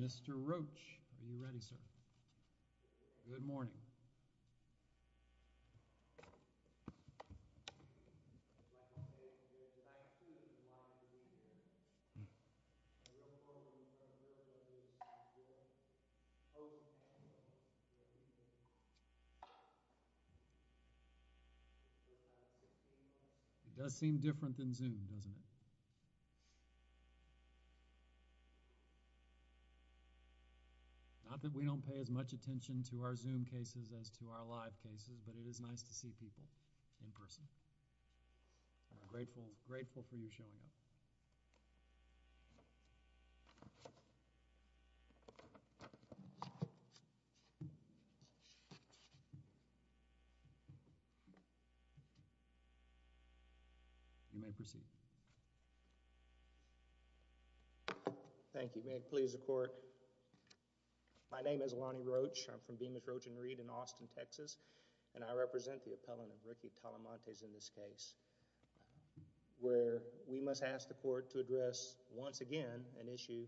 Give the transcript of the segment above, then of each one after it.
Mr. Roach, are you ready, sir? Good morning. It does seem different than Zoom, doesn't it? Not that we don't pay as much attention to our Zoom cases as to our live cases, but it is nice to see people in person. I'm grateful for you showing up. You may proceed. Thank you. May it please the Court, my name is Lonnie Roach. I'm from Bemis, Roach & Reed in Austin, Texas, and I represent the appellant of Ricky Talamantes in this case, where we must ask the Court to address once again an issue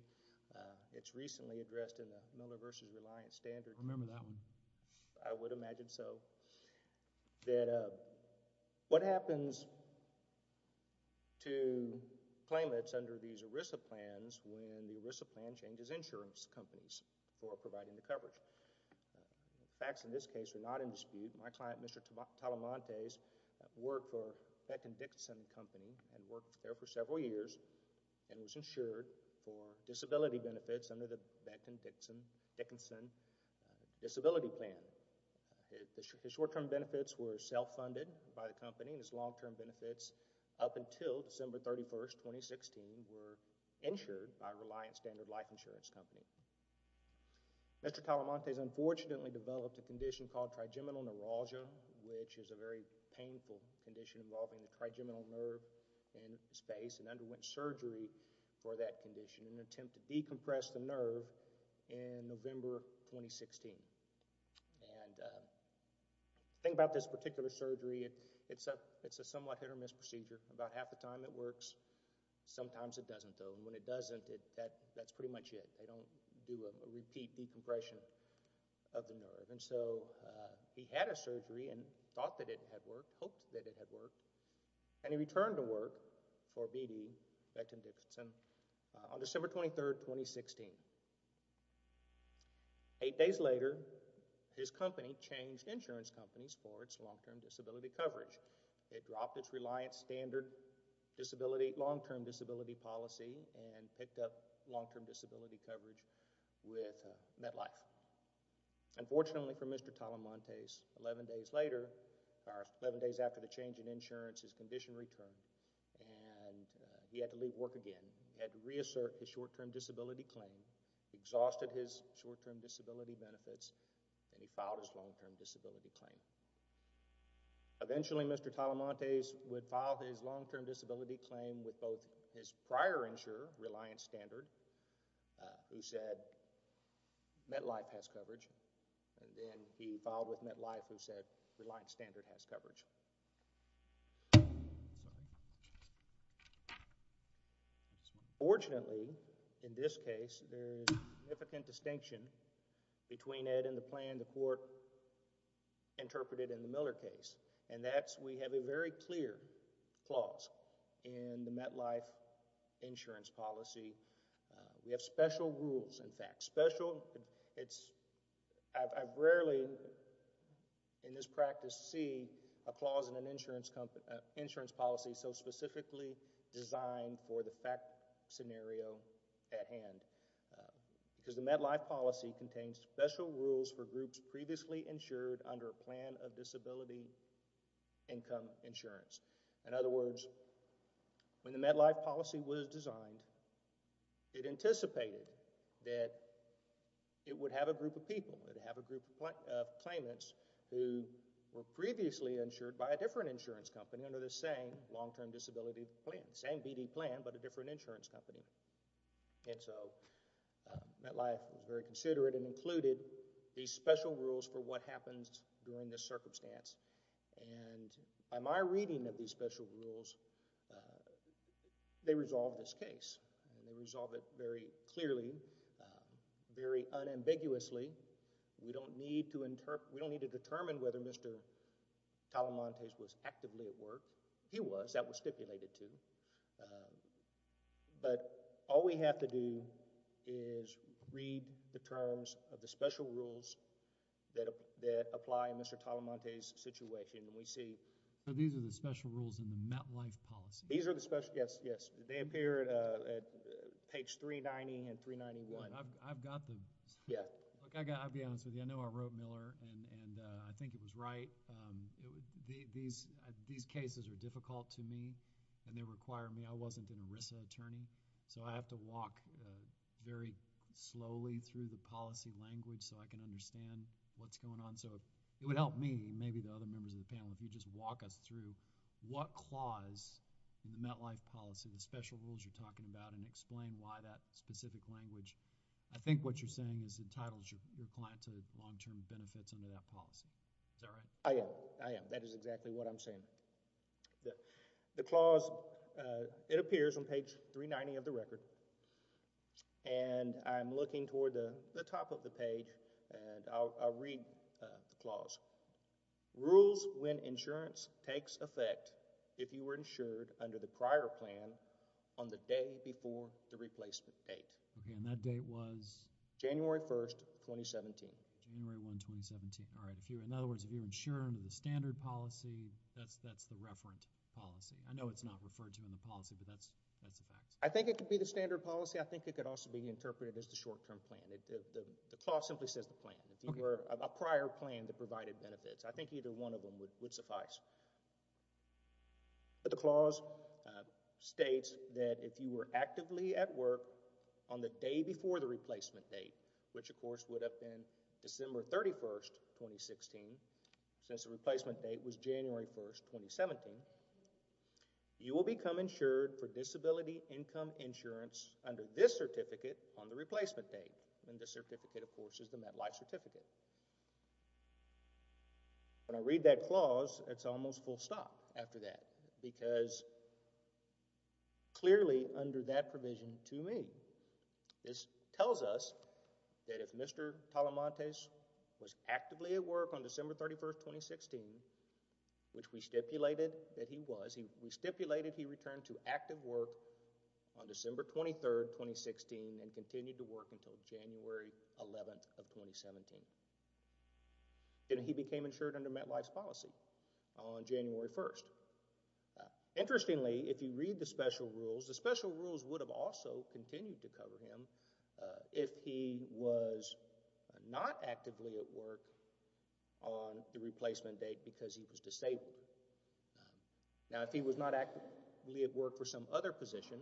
that's recently addressed in the Miller v. Reliance standard. I remember that one. I would imagine so. What happens to claimants under these ERISA plans when the ERISA plan changes insurance companies for providing the coverage? The facts in this case are not in dispute. My client, Mr. Talamantes, worked for the Benton Dickinson Company and worked there for several years and was insured for disability benefits under the Benton Dickinson Disability Plan. His short-term benefits were self-funded by the company and his long-term benefits up until December 31, 2016, were insured by Reliance Standard Life Insurance Company. Mr. Talamantes unfortunately developed a condition called trigeminal neuralgia, which is a very painful condition involving the trigeminal nerve in the space and underwent surgery for that condition in an attempt to decompress the nerve in November 2016. And the thing about this particular surgery, it's a somewhat hit-or-miss procedure. About half the time it works. Sometimes it doesn't, though. And when it doesn't, that's pretty much it. They don't do a repeat decompression of the nerve. And so he had a surgery and thought that it had worked, hoped that it had worked, and he returned to work for BD, Benton Dickinson, on December 23, 2016. Eight days later, his company changed insurance companies for its long-term disability coverage. It dropped its Reliance Standard long-term disability policy and picked up long-term disability coverage with MedLife. Unfortunately for Mr. Talamantes, 11 days later, or 11 days after the change in insurance, his condition returned and he had to leave work again. He had to reassert his short-term disability claim, exhausted his short-term disability benefits, and he filed his long-term disability claim. Eventually, Mr. Talamantes would file his long-term disability claim with both his prior insurer, Reliance Standard, who said MedLife has coverage, and then he filed with MedLife, who said Reliance Standard has coverage. Unfortunately, in this case, there's a significant distinction between Ed and the plan the court interpreted in the Miller case, and that's we have a very clear clause in the MedLife insurance policy. We have special rules, in fact. Special, it's, I've rarely, in this practice, see a clause in an insurance policy so specifically designed for the fact scenario at hand, because the MedLife policy contains special rules for groups previously insured under a plan of disability income insurance. In other words, when the MedLife policy was designed, it anticipated that it would have a group of people. It would have a group of claimants who were previously insured by a different insurance company under the same long-term disability plan, same BD plan, but a different insurance company, and so MedLife was very considerate and included these special rules for what happens during this circumstance, and by my reading of these special rules, they resolve this case, and they resolve it very clearly, very unambiguously. We don't need to determine whether Mr. Talamante was actively at work. He was. That was stipulated, too, but all we have to do is read the terms of the special rules that apply in Mr. Talamante's situation, and we see... These are the special rules in the MedLife policy? These are the special, yes, yes. They appear at page 390 and 391. I've got the... I'll be honest with you. I know I wrote Miller, and I think it was right. These cases are difficult to me, and they require me. I wasn't an ERISA attorney, so I have to walk very slowly through the policy language so I can understand what's going on. It would help me and maybe the other members of the panel if you just walk us through what clause in the MedLife policy, the special rules you're talking about, and explain why that specific language, I think what you're saying is entitles your client to long-term benefits under that policy. Is that right? I am. I am. That is exactly what I'm saying. The clause, it appears on page 390 of the record, and I'm looking toward the top of the page, and I'll read the clause. Rules when insurance takes effect if you were insured under the prior plan on the day before the replacement date. Okay, and that date was... January 1, 2017. January 1, 2017. All right. In other words, if you're insured under the standard policy, that's the referent policy. I know it's not referred to in the policy, but that's a fact. I think it could be the standard policy. I think it could also be interpreted as the short-term plan. The clause simply says the plan. If you were a prior plan that provided benefits, I think either one of them would suffice, but the clause states that if you were actively at work on the day before the replacement date, which of course would have been December 31, 2016, since the replacement date was January 1, 2017, you will become insured for disability income insurance under this certificate on the replacement date, and this certificate, of course, is the MetLife certificate. When I read that clause, it's almost full stop after that because clearly under that provision to me, this tells us that if Mr. Talamantes was actively at work on December 31, 2016, which we stipulated that he was, we stipulated he returned to active work on December 23, 2016, and continued to work until January 11, 2017, and he became insured under MetLife's policy on January 1. Interestingly, if you read the special rules, the special rules would have also continued to cover him if he was not actively at work on the replacement date because he was disabled. Now, if he was not actively at work for some other position,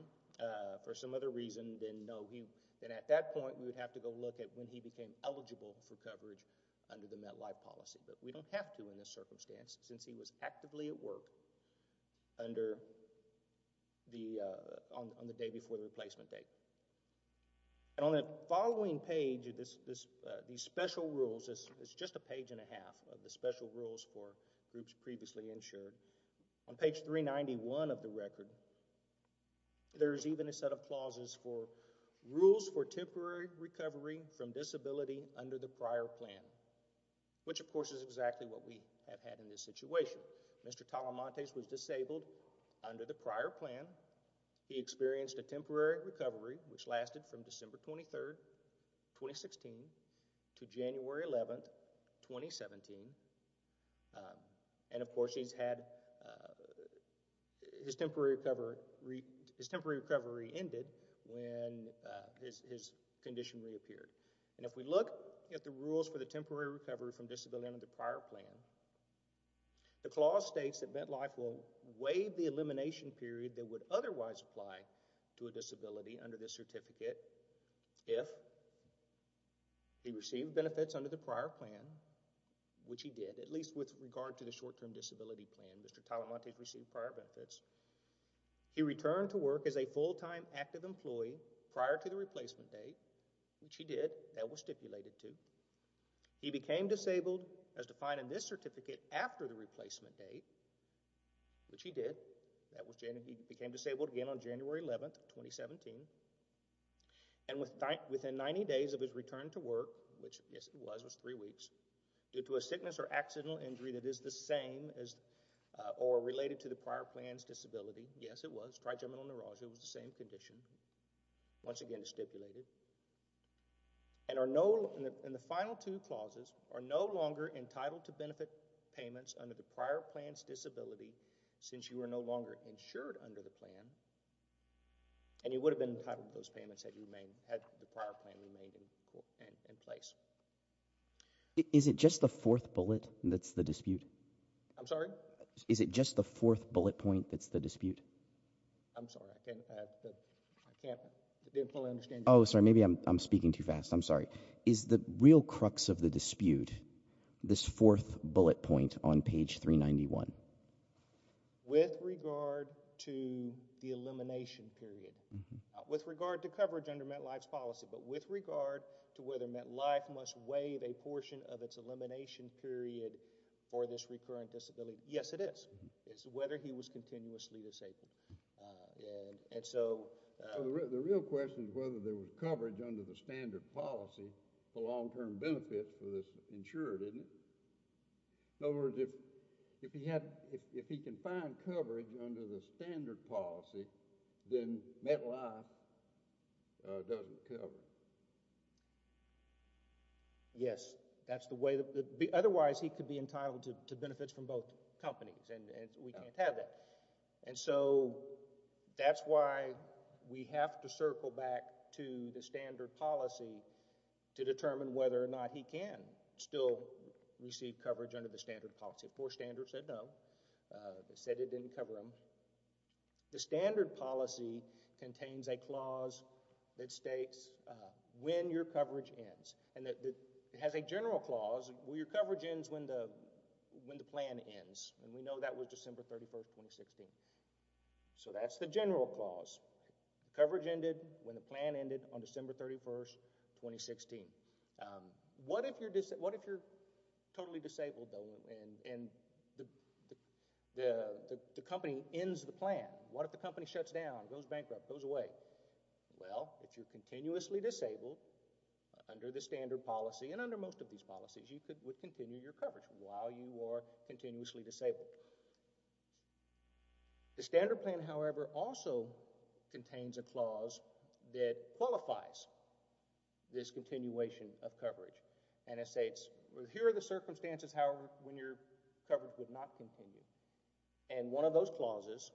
for some other reason, then at that point, we would have to go look at when he became eligible for coverage under the MetLife policy, but we don't have to in this circumstance since he was actively at work on the day before the replacement date, and on the following page, these special rules, it's just a page and a half of the special rules for groups previously insured. On page 391 of the record, there's even a set of clauses for rules for temporary recovery from disability under the prior plan, which of course is exactly what we have had in this situation. Mr. Talamantes was disabled under the prior plan. He experienced a temporary recovery, which lasted from December 23rd, 2016 to January 11th, 2017, and of course, he's had his temporary recovery ended when his condition reappeared, and if we look at the rules for the temporary recovery from disability under the prior plan, the clause states that MetLife will waive the elimination period that would otherwise apply to a disability under this certificate if he received benefits under the prior plan, which he did, at least with regard to the short-term disability plan. Mr. Talamantes received prior benefits. He returned to work as a full-time active employee prior to the replacement date, which he did, that was stipulated too. He became disabled as defined in this certificate after the replacement date, which he did. He became disabled again on January 11th, 2017, and within 90 days of his return to work, which yes, it was three weeks, due to a sickness or accidental injury that is the same as or related to the prior plan's disability, yes, it was trigeminal neuralgia with the same condition, once again stipulated, and are no, in the final two clauses, are no longer entitled to benefit payments under the prior plan's disability since you are no longer insured under the plan, and you would have been entitled to those payments had you remained, had the prior plan remained in place. Is it just the fourth bullet that's the dispute? I'm sorry? Is it just the fourth bullet point that's the dispute? I'm sorry. Maybe I'm speaking too fast. I'm sorry. Is the real crux of the dispute this fourth bullet point on page 391? With regard to the elimination period, with regard to coverage under MetLife's policy, but with regard to whether MetLife must waive a portion of its elimination period for this recurring disability, yes, it is. It's whether he was continuously disabled, and so the real question is whether there was coverage under the standard policy for long-term benefits for this insured, isn't it? In other words, if he can find coverage under the standard policy, then MetLife doesn't cover it. Yes, that's the way, otherwise he could be entitled to benefits from both companies, and we can't have that, and so that's why we have to circle back to the standard policy to determine whether or not he can still receive coverage under the standard policy. Four standards said no. They said it didn't cover him. The standard policy contains a clause that states when your coverage ends, and that it has a general clause. Well, your coverage ends when the plan ends, and we know that was December 31st, 2016, so that's the general clause. The coverage ended when the plan ended on December 31st, 2016. What if you're totally disabled, though, and the company ends the plan? What if the company shuts down, goes bankrupt, goes away? Well, if you're continuously disabled under the standard policy, and under most of these policies, you could continue your coverage while you are continuously disabled. The standard plan, however, also contains a clause that qualifies this continuation of coverage, and it states here are the circumstances, however, when your coverage would not continue, and one of those clauses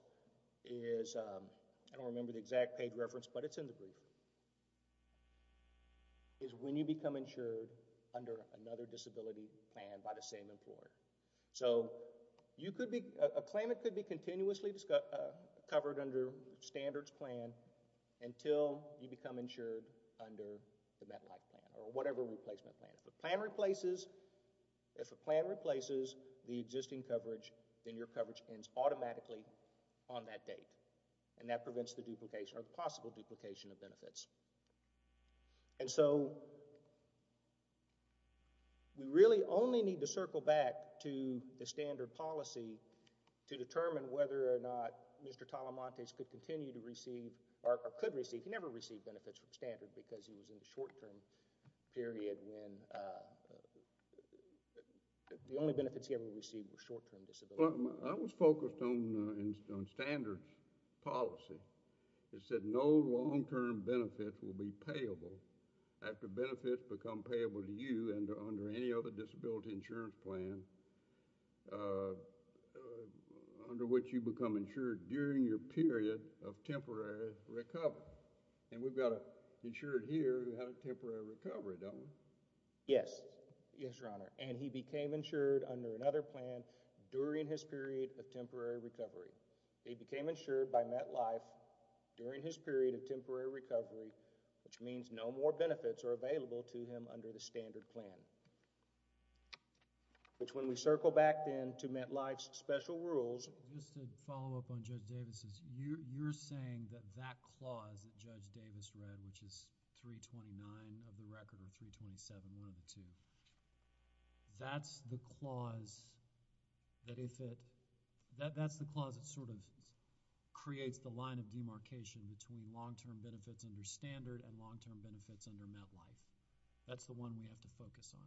is, I don't remember the exact page but it's in the brief, is when you become insured under another disability plan by the same employer. So, you could be, a claimant could be continuously covered under standards plan until you become insured under the MetLife plan or whatever replacement plan. If a plan replaces, if a plan replaces the existing coverage, then your coverage ends automatically on that date, and that prevents the duplication or possible duplication of benefits. And so, we really only need to circle back to the standard policy to determine whether or not Mr. Talamantes could continue to receive, or could receive, he never received benefits from standard because he was in the short-term period when the only benefits he ever received were the benefits that he received. So, that's focused on standards policy. It said no long-term benefits will be payable after benefits become payable to you and under any other disability insurance plan under which you become insured during your period of temporary recovery. And we've got an insured here who had a temporary recovery, don't we? Yes. Yes, Your Honor, and he became insured under another plan during his period of temporary recovery. He became insured by MetLife during his period of temporary recovery, which means no more benefits are available to him under the standard plan, which when we circle back then to MetLife's special rules. Just to follow up on Judge Davis's, you're saying that that clause that Judge Davis read, which is 329 of the record, 327, 1 of the two, that's the clause that if it, that's the clause that sort of creates the line of demarcation between long-term benefits under standard and long-term benefits under MetLife. That's the one we have to focus on.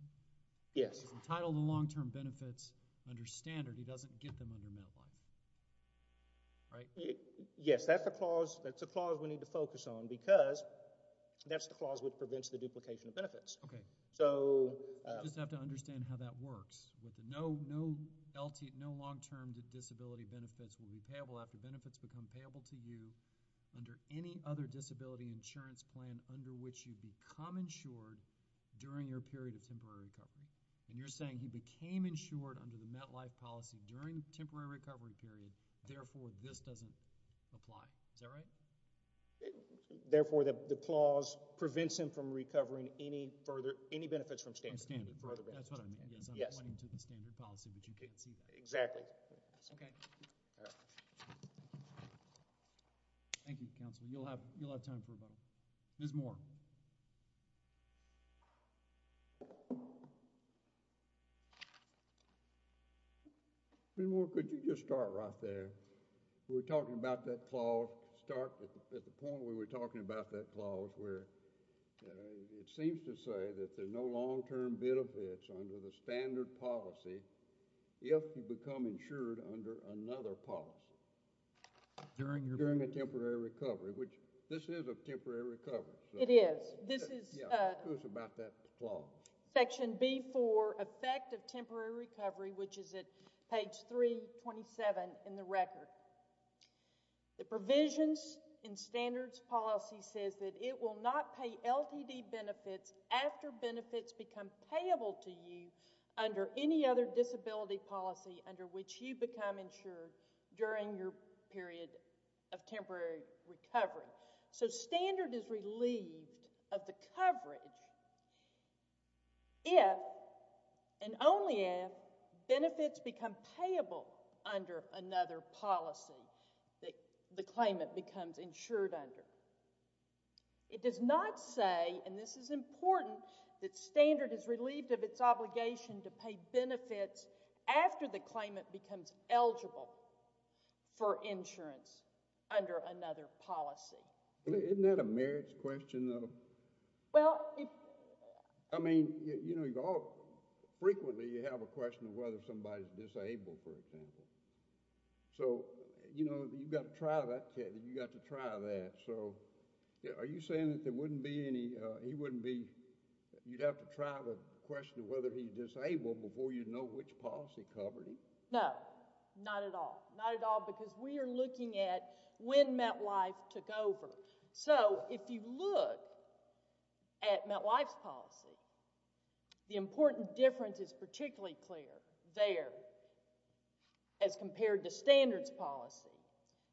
Yes. It's entitled the long-term benefits under standard. He doesn't get them under MetLife, right? Yes, that's a clause, that's a clause we need to focus on because that's the clause which prevents the duplication of benefits. Okay. So, you just have to understand how that works. No, no LT, no long-term disability benefits will be payable after benefits become payable to you under any other disability insurance plan under which you become insured during your period of temporary recovery. And you're saying he became insured under the MetLife policy during the temporary recovery period, therefore this doesn't apply. Is that right? Therefore, the clause prevents him from recovering any further, any benefits from standard. That's what I mean. Yes. I'm pointing to the standard policy, but you can't see that. Exactly. Thank you, counsel. You'll have, you'll have time for a vote. Ms. Moore. Ms. Moore, could you just start right there? We're talking about that clause, start at the point where we're talking about that clause where it seems to say that there's no long-term benefits under the standard policy if you become insured under another policy during a temporary recovery, which this is a temporary recovery. It is. This is about that clause. Section B-4, effect of temporary recovery, which is at page 327 in the record. The provisions in standards policy says that it will not pay LTD benefits after benefits become payable to you under any disability policy under which you become insured during your period of temporary recovery. So, standard is relieved of the coverage if and only if benefits become payable under another policy that the claimant becomes insured under. It does not say, and this is important, that standard is relieved of its obligation to pay benefits after the claimant becomes eligible for insurance under another policy. Isn't that a merits question, though? Well, I mean, you know, frequently you have a question of whether somebody's disabled, for example. So, you know, you've got to try that. You've got to try that. So, are you saying that there you'd have to try the question of whether he's disabled before you know which policy covered him? No, not at all. Not at all, because we are looking at when MetLife took over. So, if you look at MetLife's policy, the important difference is particularly clear there as compared to standards policy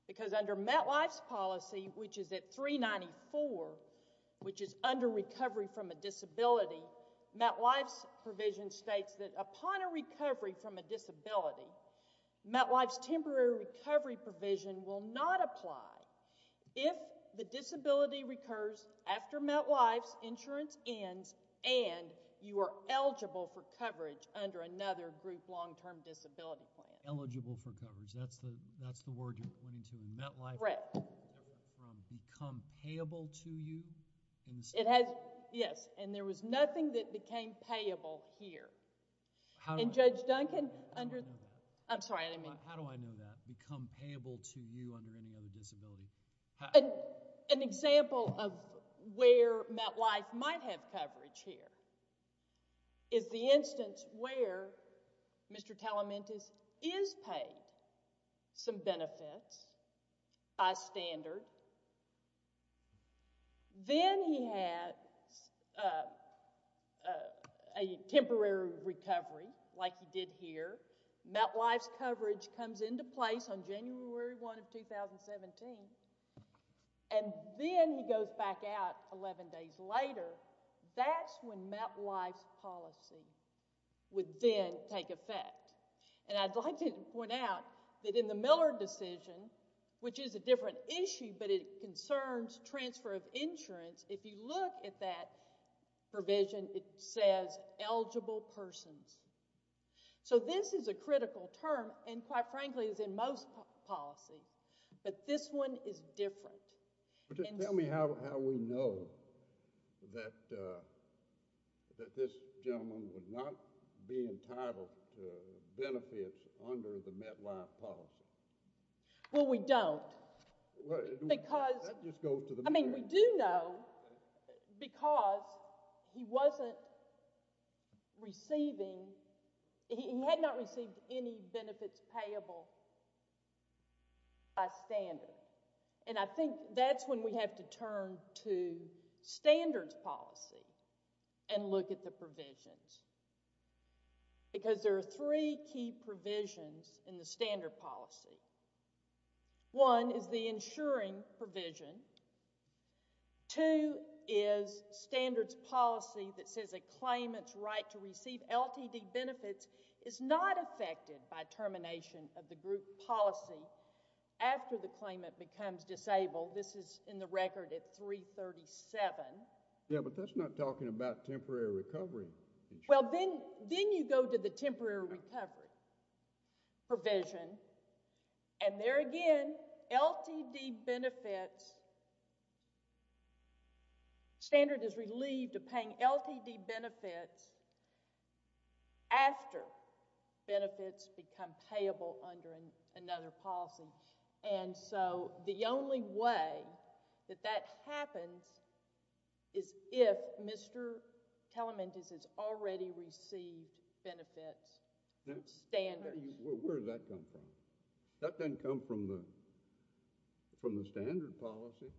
because under MetLife's policy, which is at 394, which is under recovery from a disability, MetLife's provision states that upon a recovery from a disability, MetLife's temporary recovery provision will not apply if the disability recurs after MetLife's insurance ends and you are eligible for coverage under another group long-term disability plan. Eligible for coverage. That's the word you're pointing to. MetLife never went from become payable to you. It has, yes, and there was nothing that became payable here. And Judge Duncan under, I'm sorry, I didn't mean. How do I know that? Become payable to you under any other disability. An example of where MetLife might have coverage here is the instance where Mr. Talamantes is paid some benefits by standard. Then he had a temporary recovery like he did here. MetLife's coverage comes into place on a temporary basis. And I'd like to point out that in the Miller decision, which is a different issue, but it concerns transfer of insurance. If you look at that provision, it says eligible persons. So this is a critical term and quite frankly is in most policies, but this one is that this gentleman would not be entitled to benefits under the MetLife policy. Well, we don't because, I mean, we do know because he wasn't receiving, he had not received any standards policy. And look at the provisions. Because there are three key provisions in the standard policy. One is the insuring provision. Two is standards policy that says a claimant's right to receive LTD benefits is not affected by termination of the group policy after the Yeah, but that's not talking about temporary recovery. Well, then you go to the temporary recovery provision. And there again, LTD benefits, standard is relieved of paying LTD benefits after benefits become payable under another policy. And so the only way that that happens is if Mr. Telementis has already received benefits standards. Where does that come from? That doesn't come from the standard policy.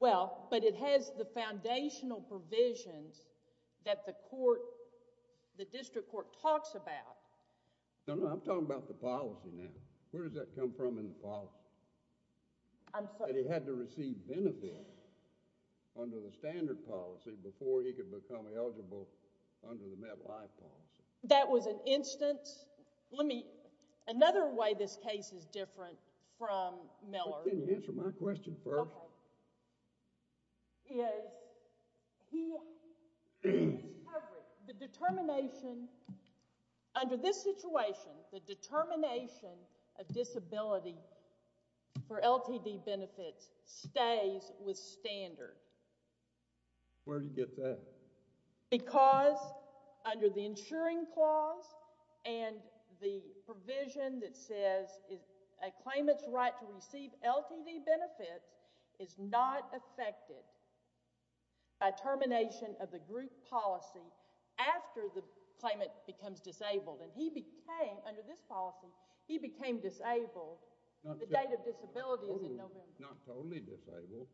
Well, but it has the foundational provisions that the court, the district court talks about. No, no, I'm talking about the policy now. Where does that come from in the policy? I'm sorry. That he had to receive benefits under the standard policy before he could become eligible under the MetLife policy. That was an instance. Let me, another way this case is different from Miller. Can you answer my question first? Well, the determination under this situation, the determination of disability for LTD benefits stays with standard. Where do you get that? Because under the insuring clause and the provision that says a claimant's right to is not affected by termination of the group policy after the claimant becomes disabled. And he became, under this policy, he became disabled. The date of disability is in November. Not totally disabled.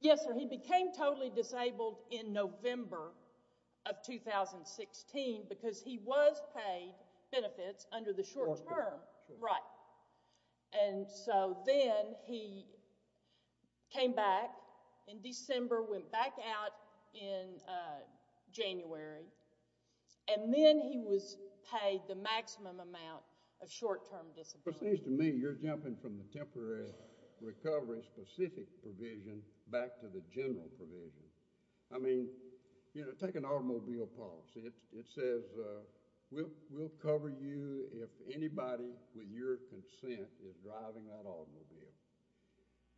Yes, sir. He became totally disabled in November of 2016 because he was paid benefits under the short term. Right. And so then he came back in December, went back out in January, and then he was paid the maximum amount of short term disability. It seems to me you're jumping from the temporary recovery specific provision back to the general provision. I mean, you know, take an automobile policy. It says we'll cover you if anybody with your consent is driving that automobile.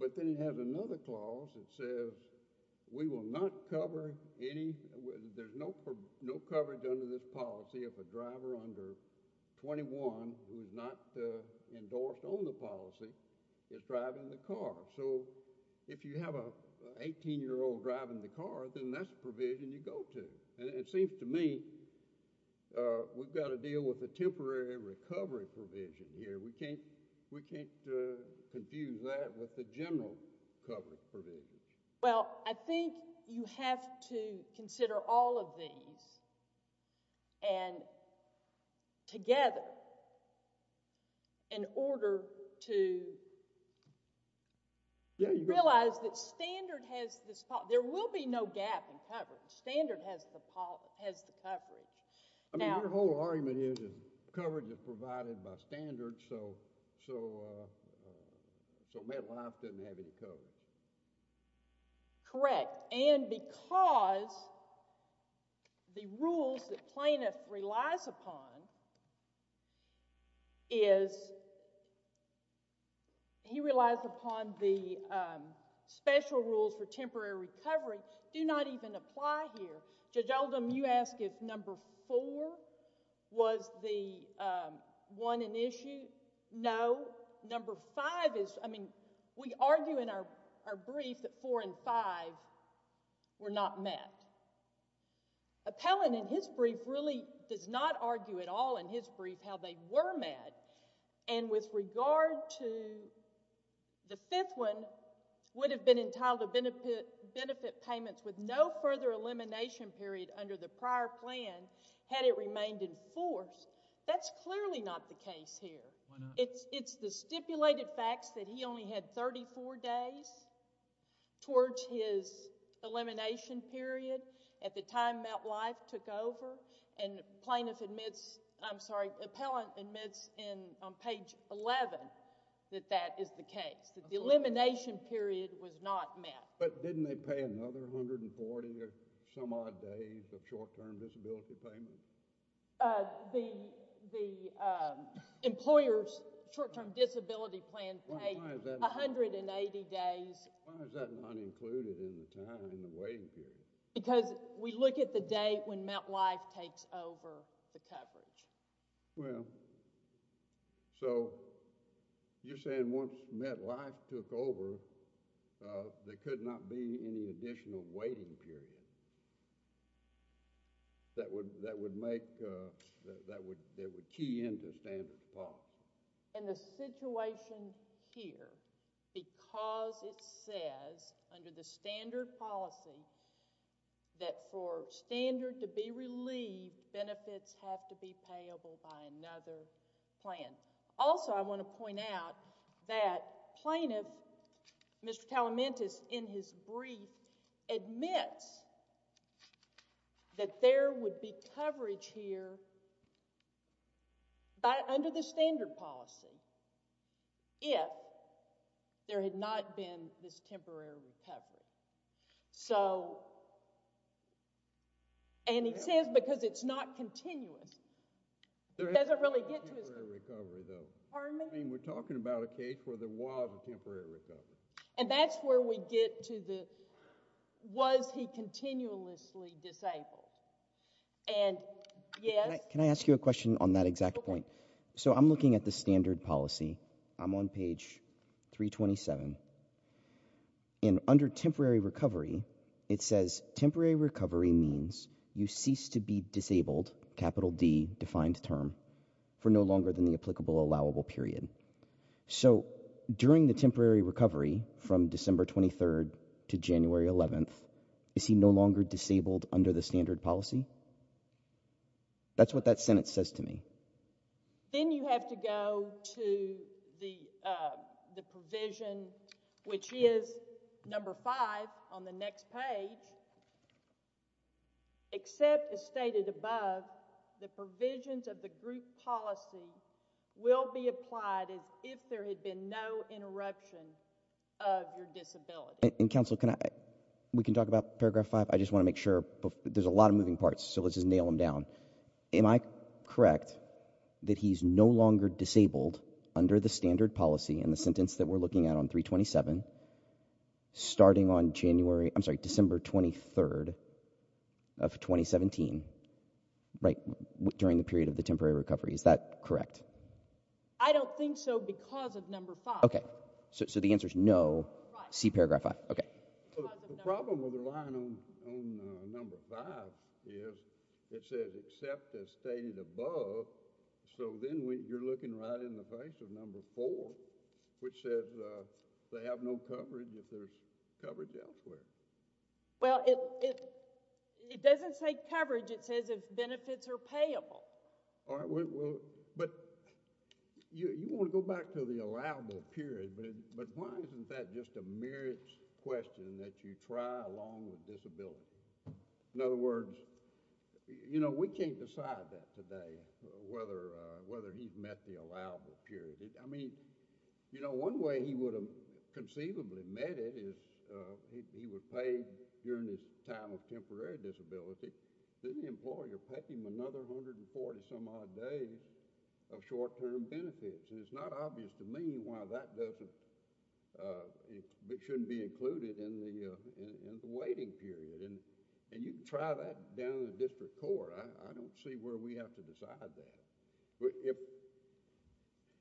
But then it has another clause that says we will not cover any, there's no coverage under this policy if a driver under 21 who is not endorsed on the policy is driving the car. So if you have an 18-year-old driving the car, then that's a provision you go to. And it seems to me we've got to deal with the temporary recovery provision here. We can't, we can't confuse that with the general coverage provision. Well, I think you have to consider all of these and together in order to realize that standard has this, there will be no gap in coverage. Standard has the coverage. I mean, your whole argument is coverage is provided by standard so mental health doesn't have any coverage. Correct. And because the rules that plaintiff relies upon is, he relies upon the special rules for temporary recovery do not even apply here. Judge Oldham, you ask if number four was the one in issue? No. Number five is, I mean, we argue in our brief that four and five were not met. Appellant in his brief really does not argue at all in his brief how they were met. And with regard to the fifth one, would have been entitled to benefit payments with no further elimination period under the prior plan had it remained in force. That's clearly not the case here. It's the stipulated facts that he only had 34 days towards his elimination period at the time that life took over and plaintiff admits, I'm sorry, appellant admits on page 11 that that is the case, that the elimination period was not met. But didn't they pay another 140 or some odd days of short-term disability payment? The employer's short-term disability plan paid 180 days. Why is that not included in the time, in the waiting period? Because we look at the date when MetLife takes over the coverage. Well, so you're saying once MetLife took over, there could not be any additional waiting period that would, that would make, that would, that would key into standard policy? In the situation here, because it says under the standard policy that for standard to be relieved, benefits have to be payable by another plan. Also, I want to point out that plaintiff, Mr. Talamantis, in his brief admits that there would be coverage here by, under the standard policy if there had not been this temporary recovery. So, and he says because it's not continuous. There hasn't been a temporary recovery though. Pardon me? I mean, we're talking about a case where there was a temporary recovery. And that's where we get to the, was he continuously disabled? And yes. Can I ask you a question on that exact point? So I'm looking at the standard policy. I'm on page 327. And under temporary recovery, it says temporary recovery means you cease to be disabled, capital D defined term, for no longer than the applicable allowable period. So during the temporary recovery from December 23rd to January 11th, is he no longer disabled under the standard policy? That's what that Senate says to me. Then you have to go to the provision, which is number five on the next page. It says, except as stated above, the provisions of the group policy will be applied as if there had been no interruption of your disability. And counsel, can I, we can talk about paragraph five. I just want to make sure there's a lot of moving parts. So let's just nail them down. Am I correct that he's no longer disabled under the standard policy in the sentence that we're looking at on 327 starting on January, I'm sorry, December 23rd of 2017, right during the period of the temporary recovery? Is that correct? I don't think so because of number five. Okay. So the answer is no. See paragraph five. Okay. The problem with the line on number five is it says except as stated above. So then you're looking right in the face of number four, which says they have no coverage if there's coverage elsewhere. Well, it doesn't say coverage. It says if benefits are payable. But you want to go back to the allowable period, but why isn't that just a merits question that you try along with disability? In other words, you know, we can't decide that today, whether he's met the allowable period. I mean, you know, one way he would have conceivably met it is he would pay during his time of temporary disability, then the employer pay him another 140 some odd days of short-term benefits. It's not obvious to me why that doesn't, it shouldn't be included in the waiting period. And you can try that down in the district court. I don't see where we have to decide that.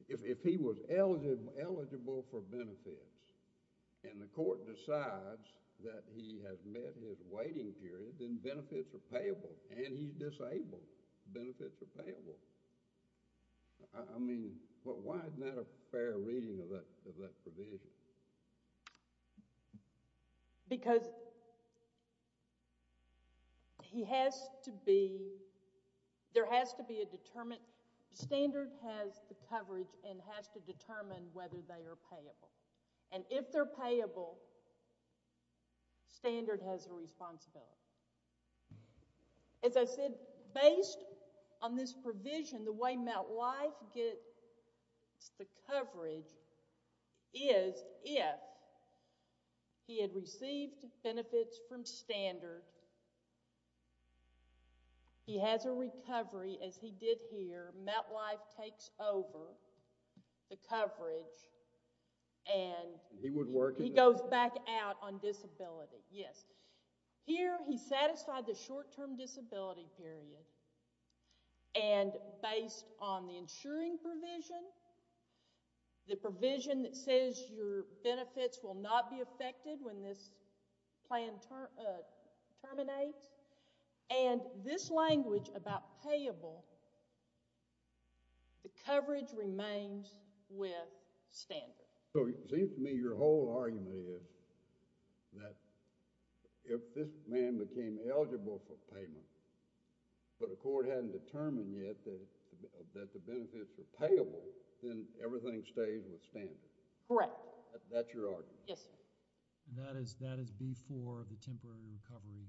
If he was eligible for benefits and the court decides that he has met his waiting period, then benefits are payable. And he's disabled. Benefits are payable. I mean, but why isn't that a fair reading of that provision? Because he has to be, there has to be a determined, standard has the coverage and has to determine whether they are payable. And if they're payable, standard has a responsibility. As I said, based on this provision, the way MetLife gets the coverage is if he had received benefits from standard, he has a recovery as he did here. MetLife takes over the coverage and he goes back out on disability. Yes. Here, he's satisfied the short-term disability period. And based on the insuring provision, the provision that says your benefits will not be affected when this plan terminates, and this language about payable, the coverage remains with standard. So it seems to me your whole argument is that if this man became eligible for payment, but a court hadn't determined yet that the benefits were payable, then everything stays with standard. Correct. That's your argument? Yes. That is B-4 of the temporary recovery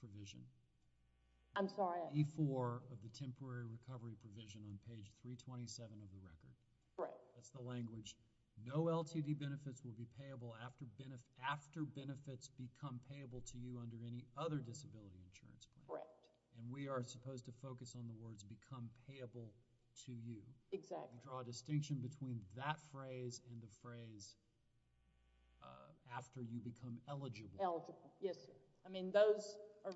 provision. I'm sorry? B-4 of the temporary recovery provision on page 327 of the record. Correct. That's the language. No LTD benefits will be payable after benefits become payable to you under any other disability insurance plan. Correct. And we are supposed to focus on the words become payable to you. Exactly. And draw a distinction between that phrase and the phrase after you become eligible. Eligible, yes. I mean those are,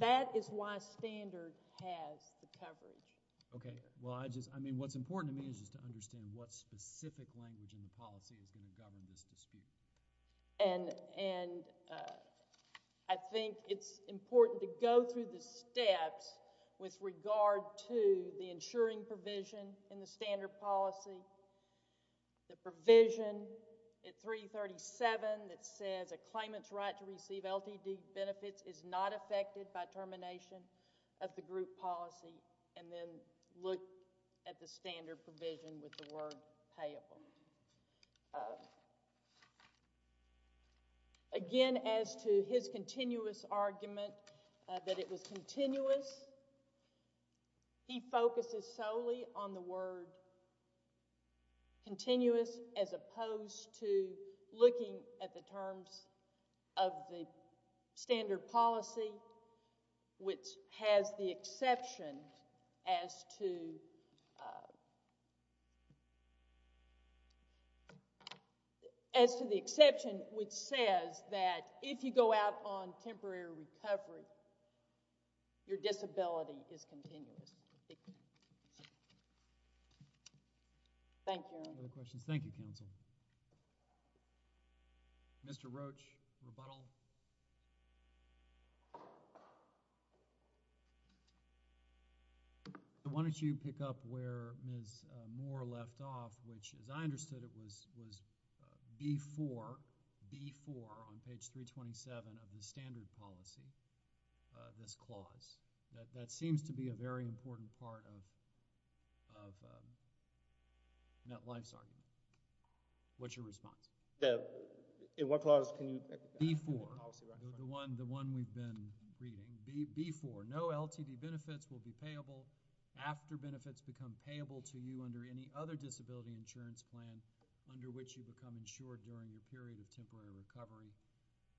that is why standard has the coverage. Okay, well I just, I mean what's important to me is just to understand what specific language in the policy is going to govern this dispute. And I think it's important to go through the steps with regard to the insuring provision in the standard policy, the provision at 337 that says a claimant's right to receive LTD benefits is not affected by termination of the group policy, and then look at the standard provision with the word payable. Again, as to his continuous argument that it was continuous, he focuses solely on the word continuous as opposed to looking at the terms of the standard policy, which has the exception as to, uh, as to the exception which says that if you go out on temporary recovery, your disability is continuous. Thank you. Other questions? Thank you, counsel. Mr. Roach, rebuttal. Why don't you pick up where Ms. Moore left off, which as I understood it was, was B4, B4 on page 327 of the standard policy, uh, this clause. That, that seems to be a very important part of, of, um, MetLife's argument. What's your response? Yeah, in what clause can you pick up? B4. The one, the one we've been reading. B, B4. No LTD benefits will be payable after benefits become payable to you under any other disability insurance plan under which you become insured during your period of temporary recovery.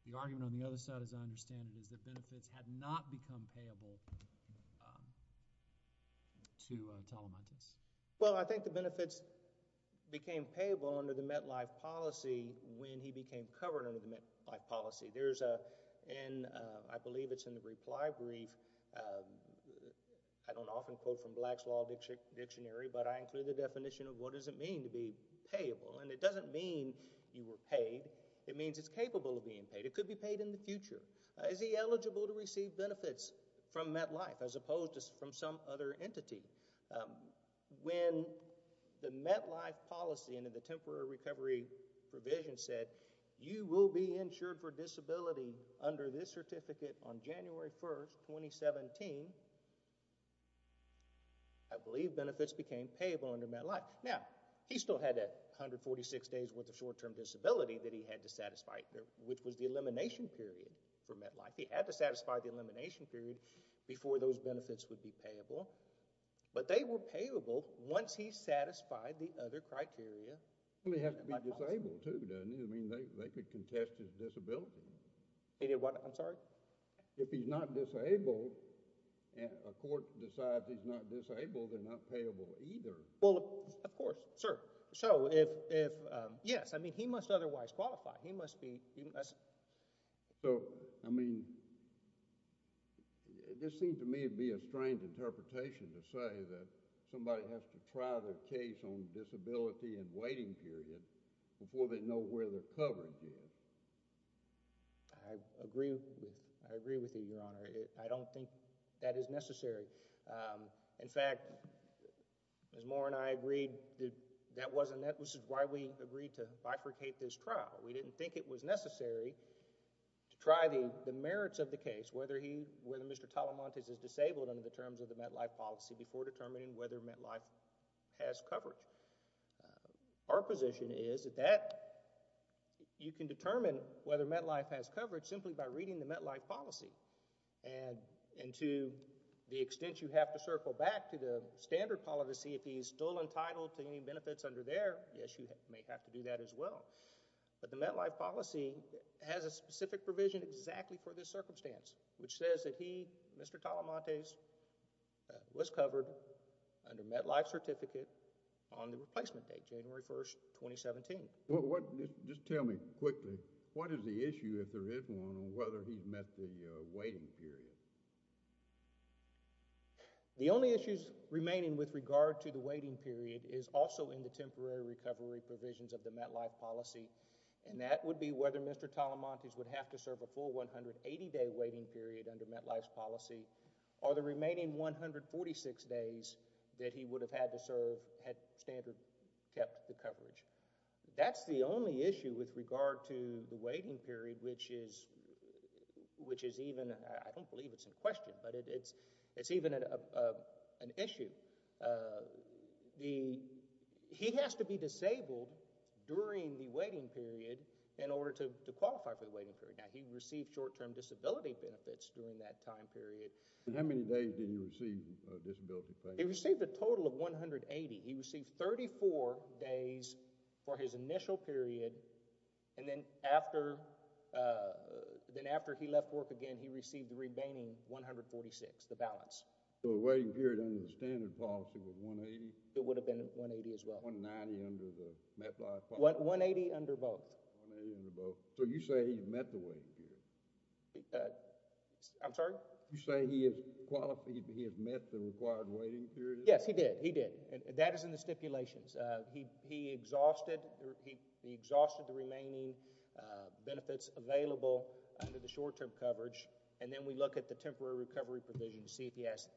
The argument on the other side, as I understand it, is that benefits had not become payable, um, to, uh, Talamantes. Well, I think the benefits became payable under the MetLife policy when he became covered under the MetLife policy. There's a, in, uh, I believe it's in the reply brief, uh, I don't often quote from Black's Law Dictionary, but I include the definition of what does it mean to be payable. And it doesn't mean you were paid. It means it's capable of being paid. It could be paid in the future. Is he eligible to receive benefits from MetLife as opposed to from some other entity? When the MetLife policy and the temporary recovery provision said you will be insured for disability under this certificate on January 1st, 2017, I believe benefits became payable under MetLife. Now, he still had that 146 days with a short-term disability that he had to satisfy, which was the elimination period for MetLife. He had to satisfy the elimination period before those benefits would be payable. But they were payable once he satisfied the other criteria. Somebody has to be disabled, too, doesn't he? I mean, they, they could contest his disability. He did what? I'm sorry? If he's not disabled and a court decides he's not disabled, they're not payable either. Well, of course, sir. So, if, if, um, yes. I mean, he must otherwise qualify. He must be, he must. So, I mean, this seems to me to be a strange interpretation to say that somebody has to try their case on disability and waiting period before they know where they're covered here. I agree with, I agree with you, Your Honor. I don't think that is necessary. In fact, Ms. Moore and I agreed that that wasn't, that was why we agreed to bifurcate this trial. We didn't think it was necessary to try the, the merits of the case, whether he, whether Mr. Talamantes is disabled under the terms of the MetLife policy before determining whether MetLife has coverage. Our position is that you can determine whether MetLife has coverage simply by reading the MetLife policy. And, and to the extent you have to circle back to the standard policy, if he's still entitled to any benefits under there, yes, you may have to do that as well. But the MetLife policy has a specific provision exactly for this circumstance, which says that he, Mr. Talamantes, was covered under MetLife certificate on the replacement date, January 1st, 2017. Well, what, just tell me quickly, what is the issue if there is one on whether he's met the waiting period? The only issues remaining with regard to the waiting period is also in the temporary recovery provisions of the MetLife policy. And that would be whether Mr. Talamantes would have to serve a full 180-day waiting period under MetLife's policy or the remaining 146 days that he would have had to serve had standard kept the coverage. That's the only issue with regard to the waiting period, which is, which is even, I don't believe it's in question, but it's, it's even an issue. The, he has to be disabled during the waiting period in order to qualify for the waiting period. Now, he received short-term disability benefits during that time period. And how many days did he receive disability pay? He received a total of 180. He received 34 days for his initial period. And then after, then after he left work again, he received the remaining 146, the balance. So the waiting period under the standard policy was 180? It would have been 180 as well. 190 under the MetLife policy? 180 under both. 180 under both. So you say he met the waiting period? I'm sorry? You say he has qualified, he has met the required waiting period? Yes, he did. He did. That is in the stipulations. He, he exhausted, he exhausted the remaining benefits available under the short-term coverage. And then we look at the temporary recovery provision to see if he has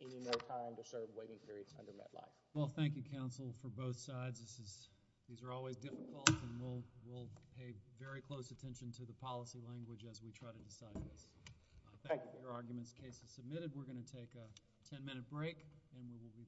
any more time to serve waiting periods under MetLife. Well, thank you, counsel, for both sides. This is, these are always difficult and we'll, we'll pay very close attention to the policy language as we try to decide this. Thank you for your arguments. Case is submitted. We're going to take a 10-minute break and we will be back.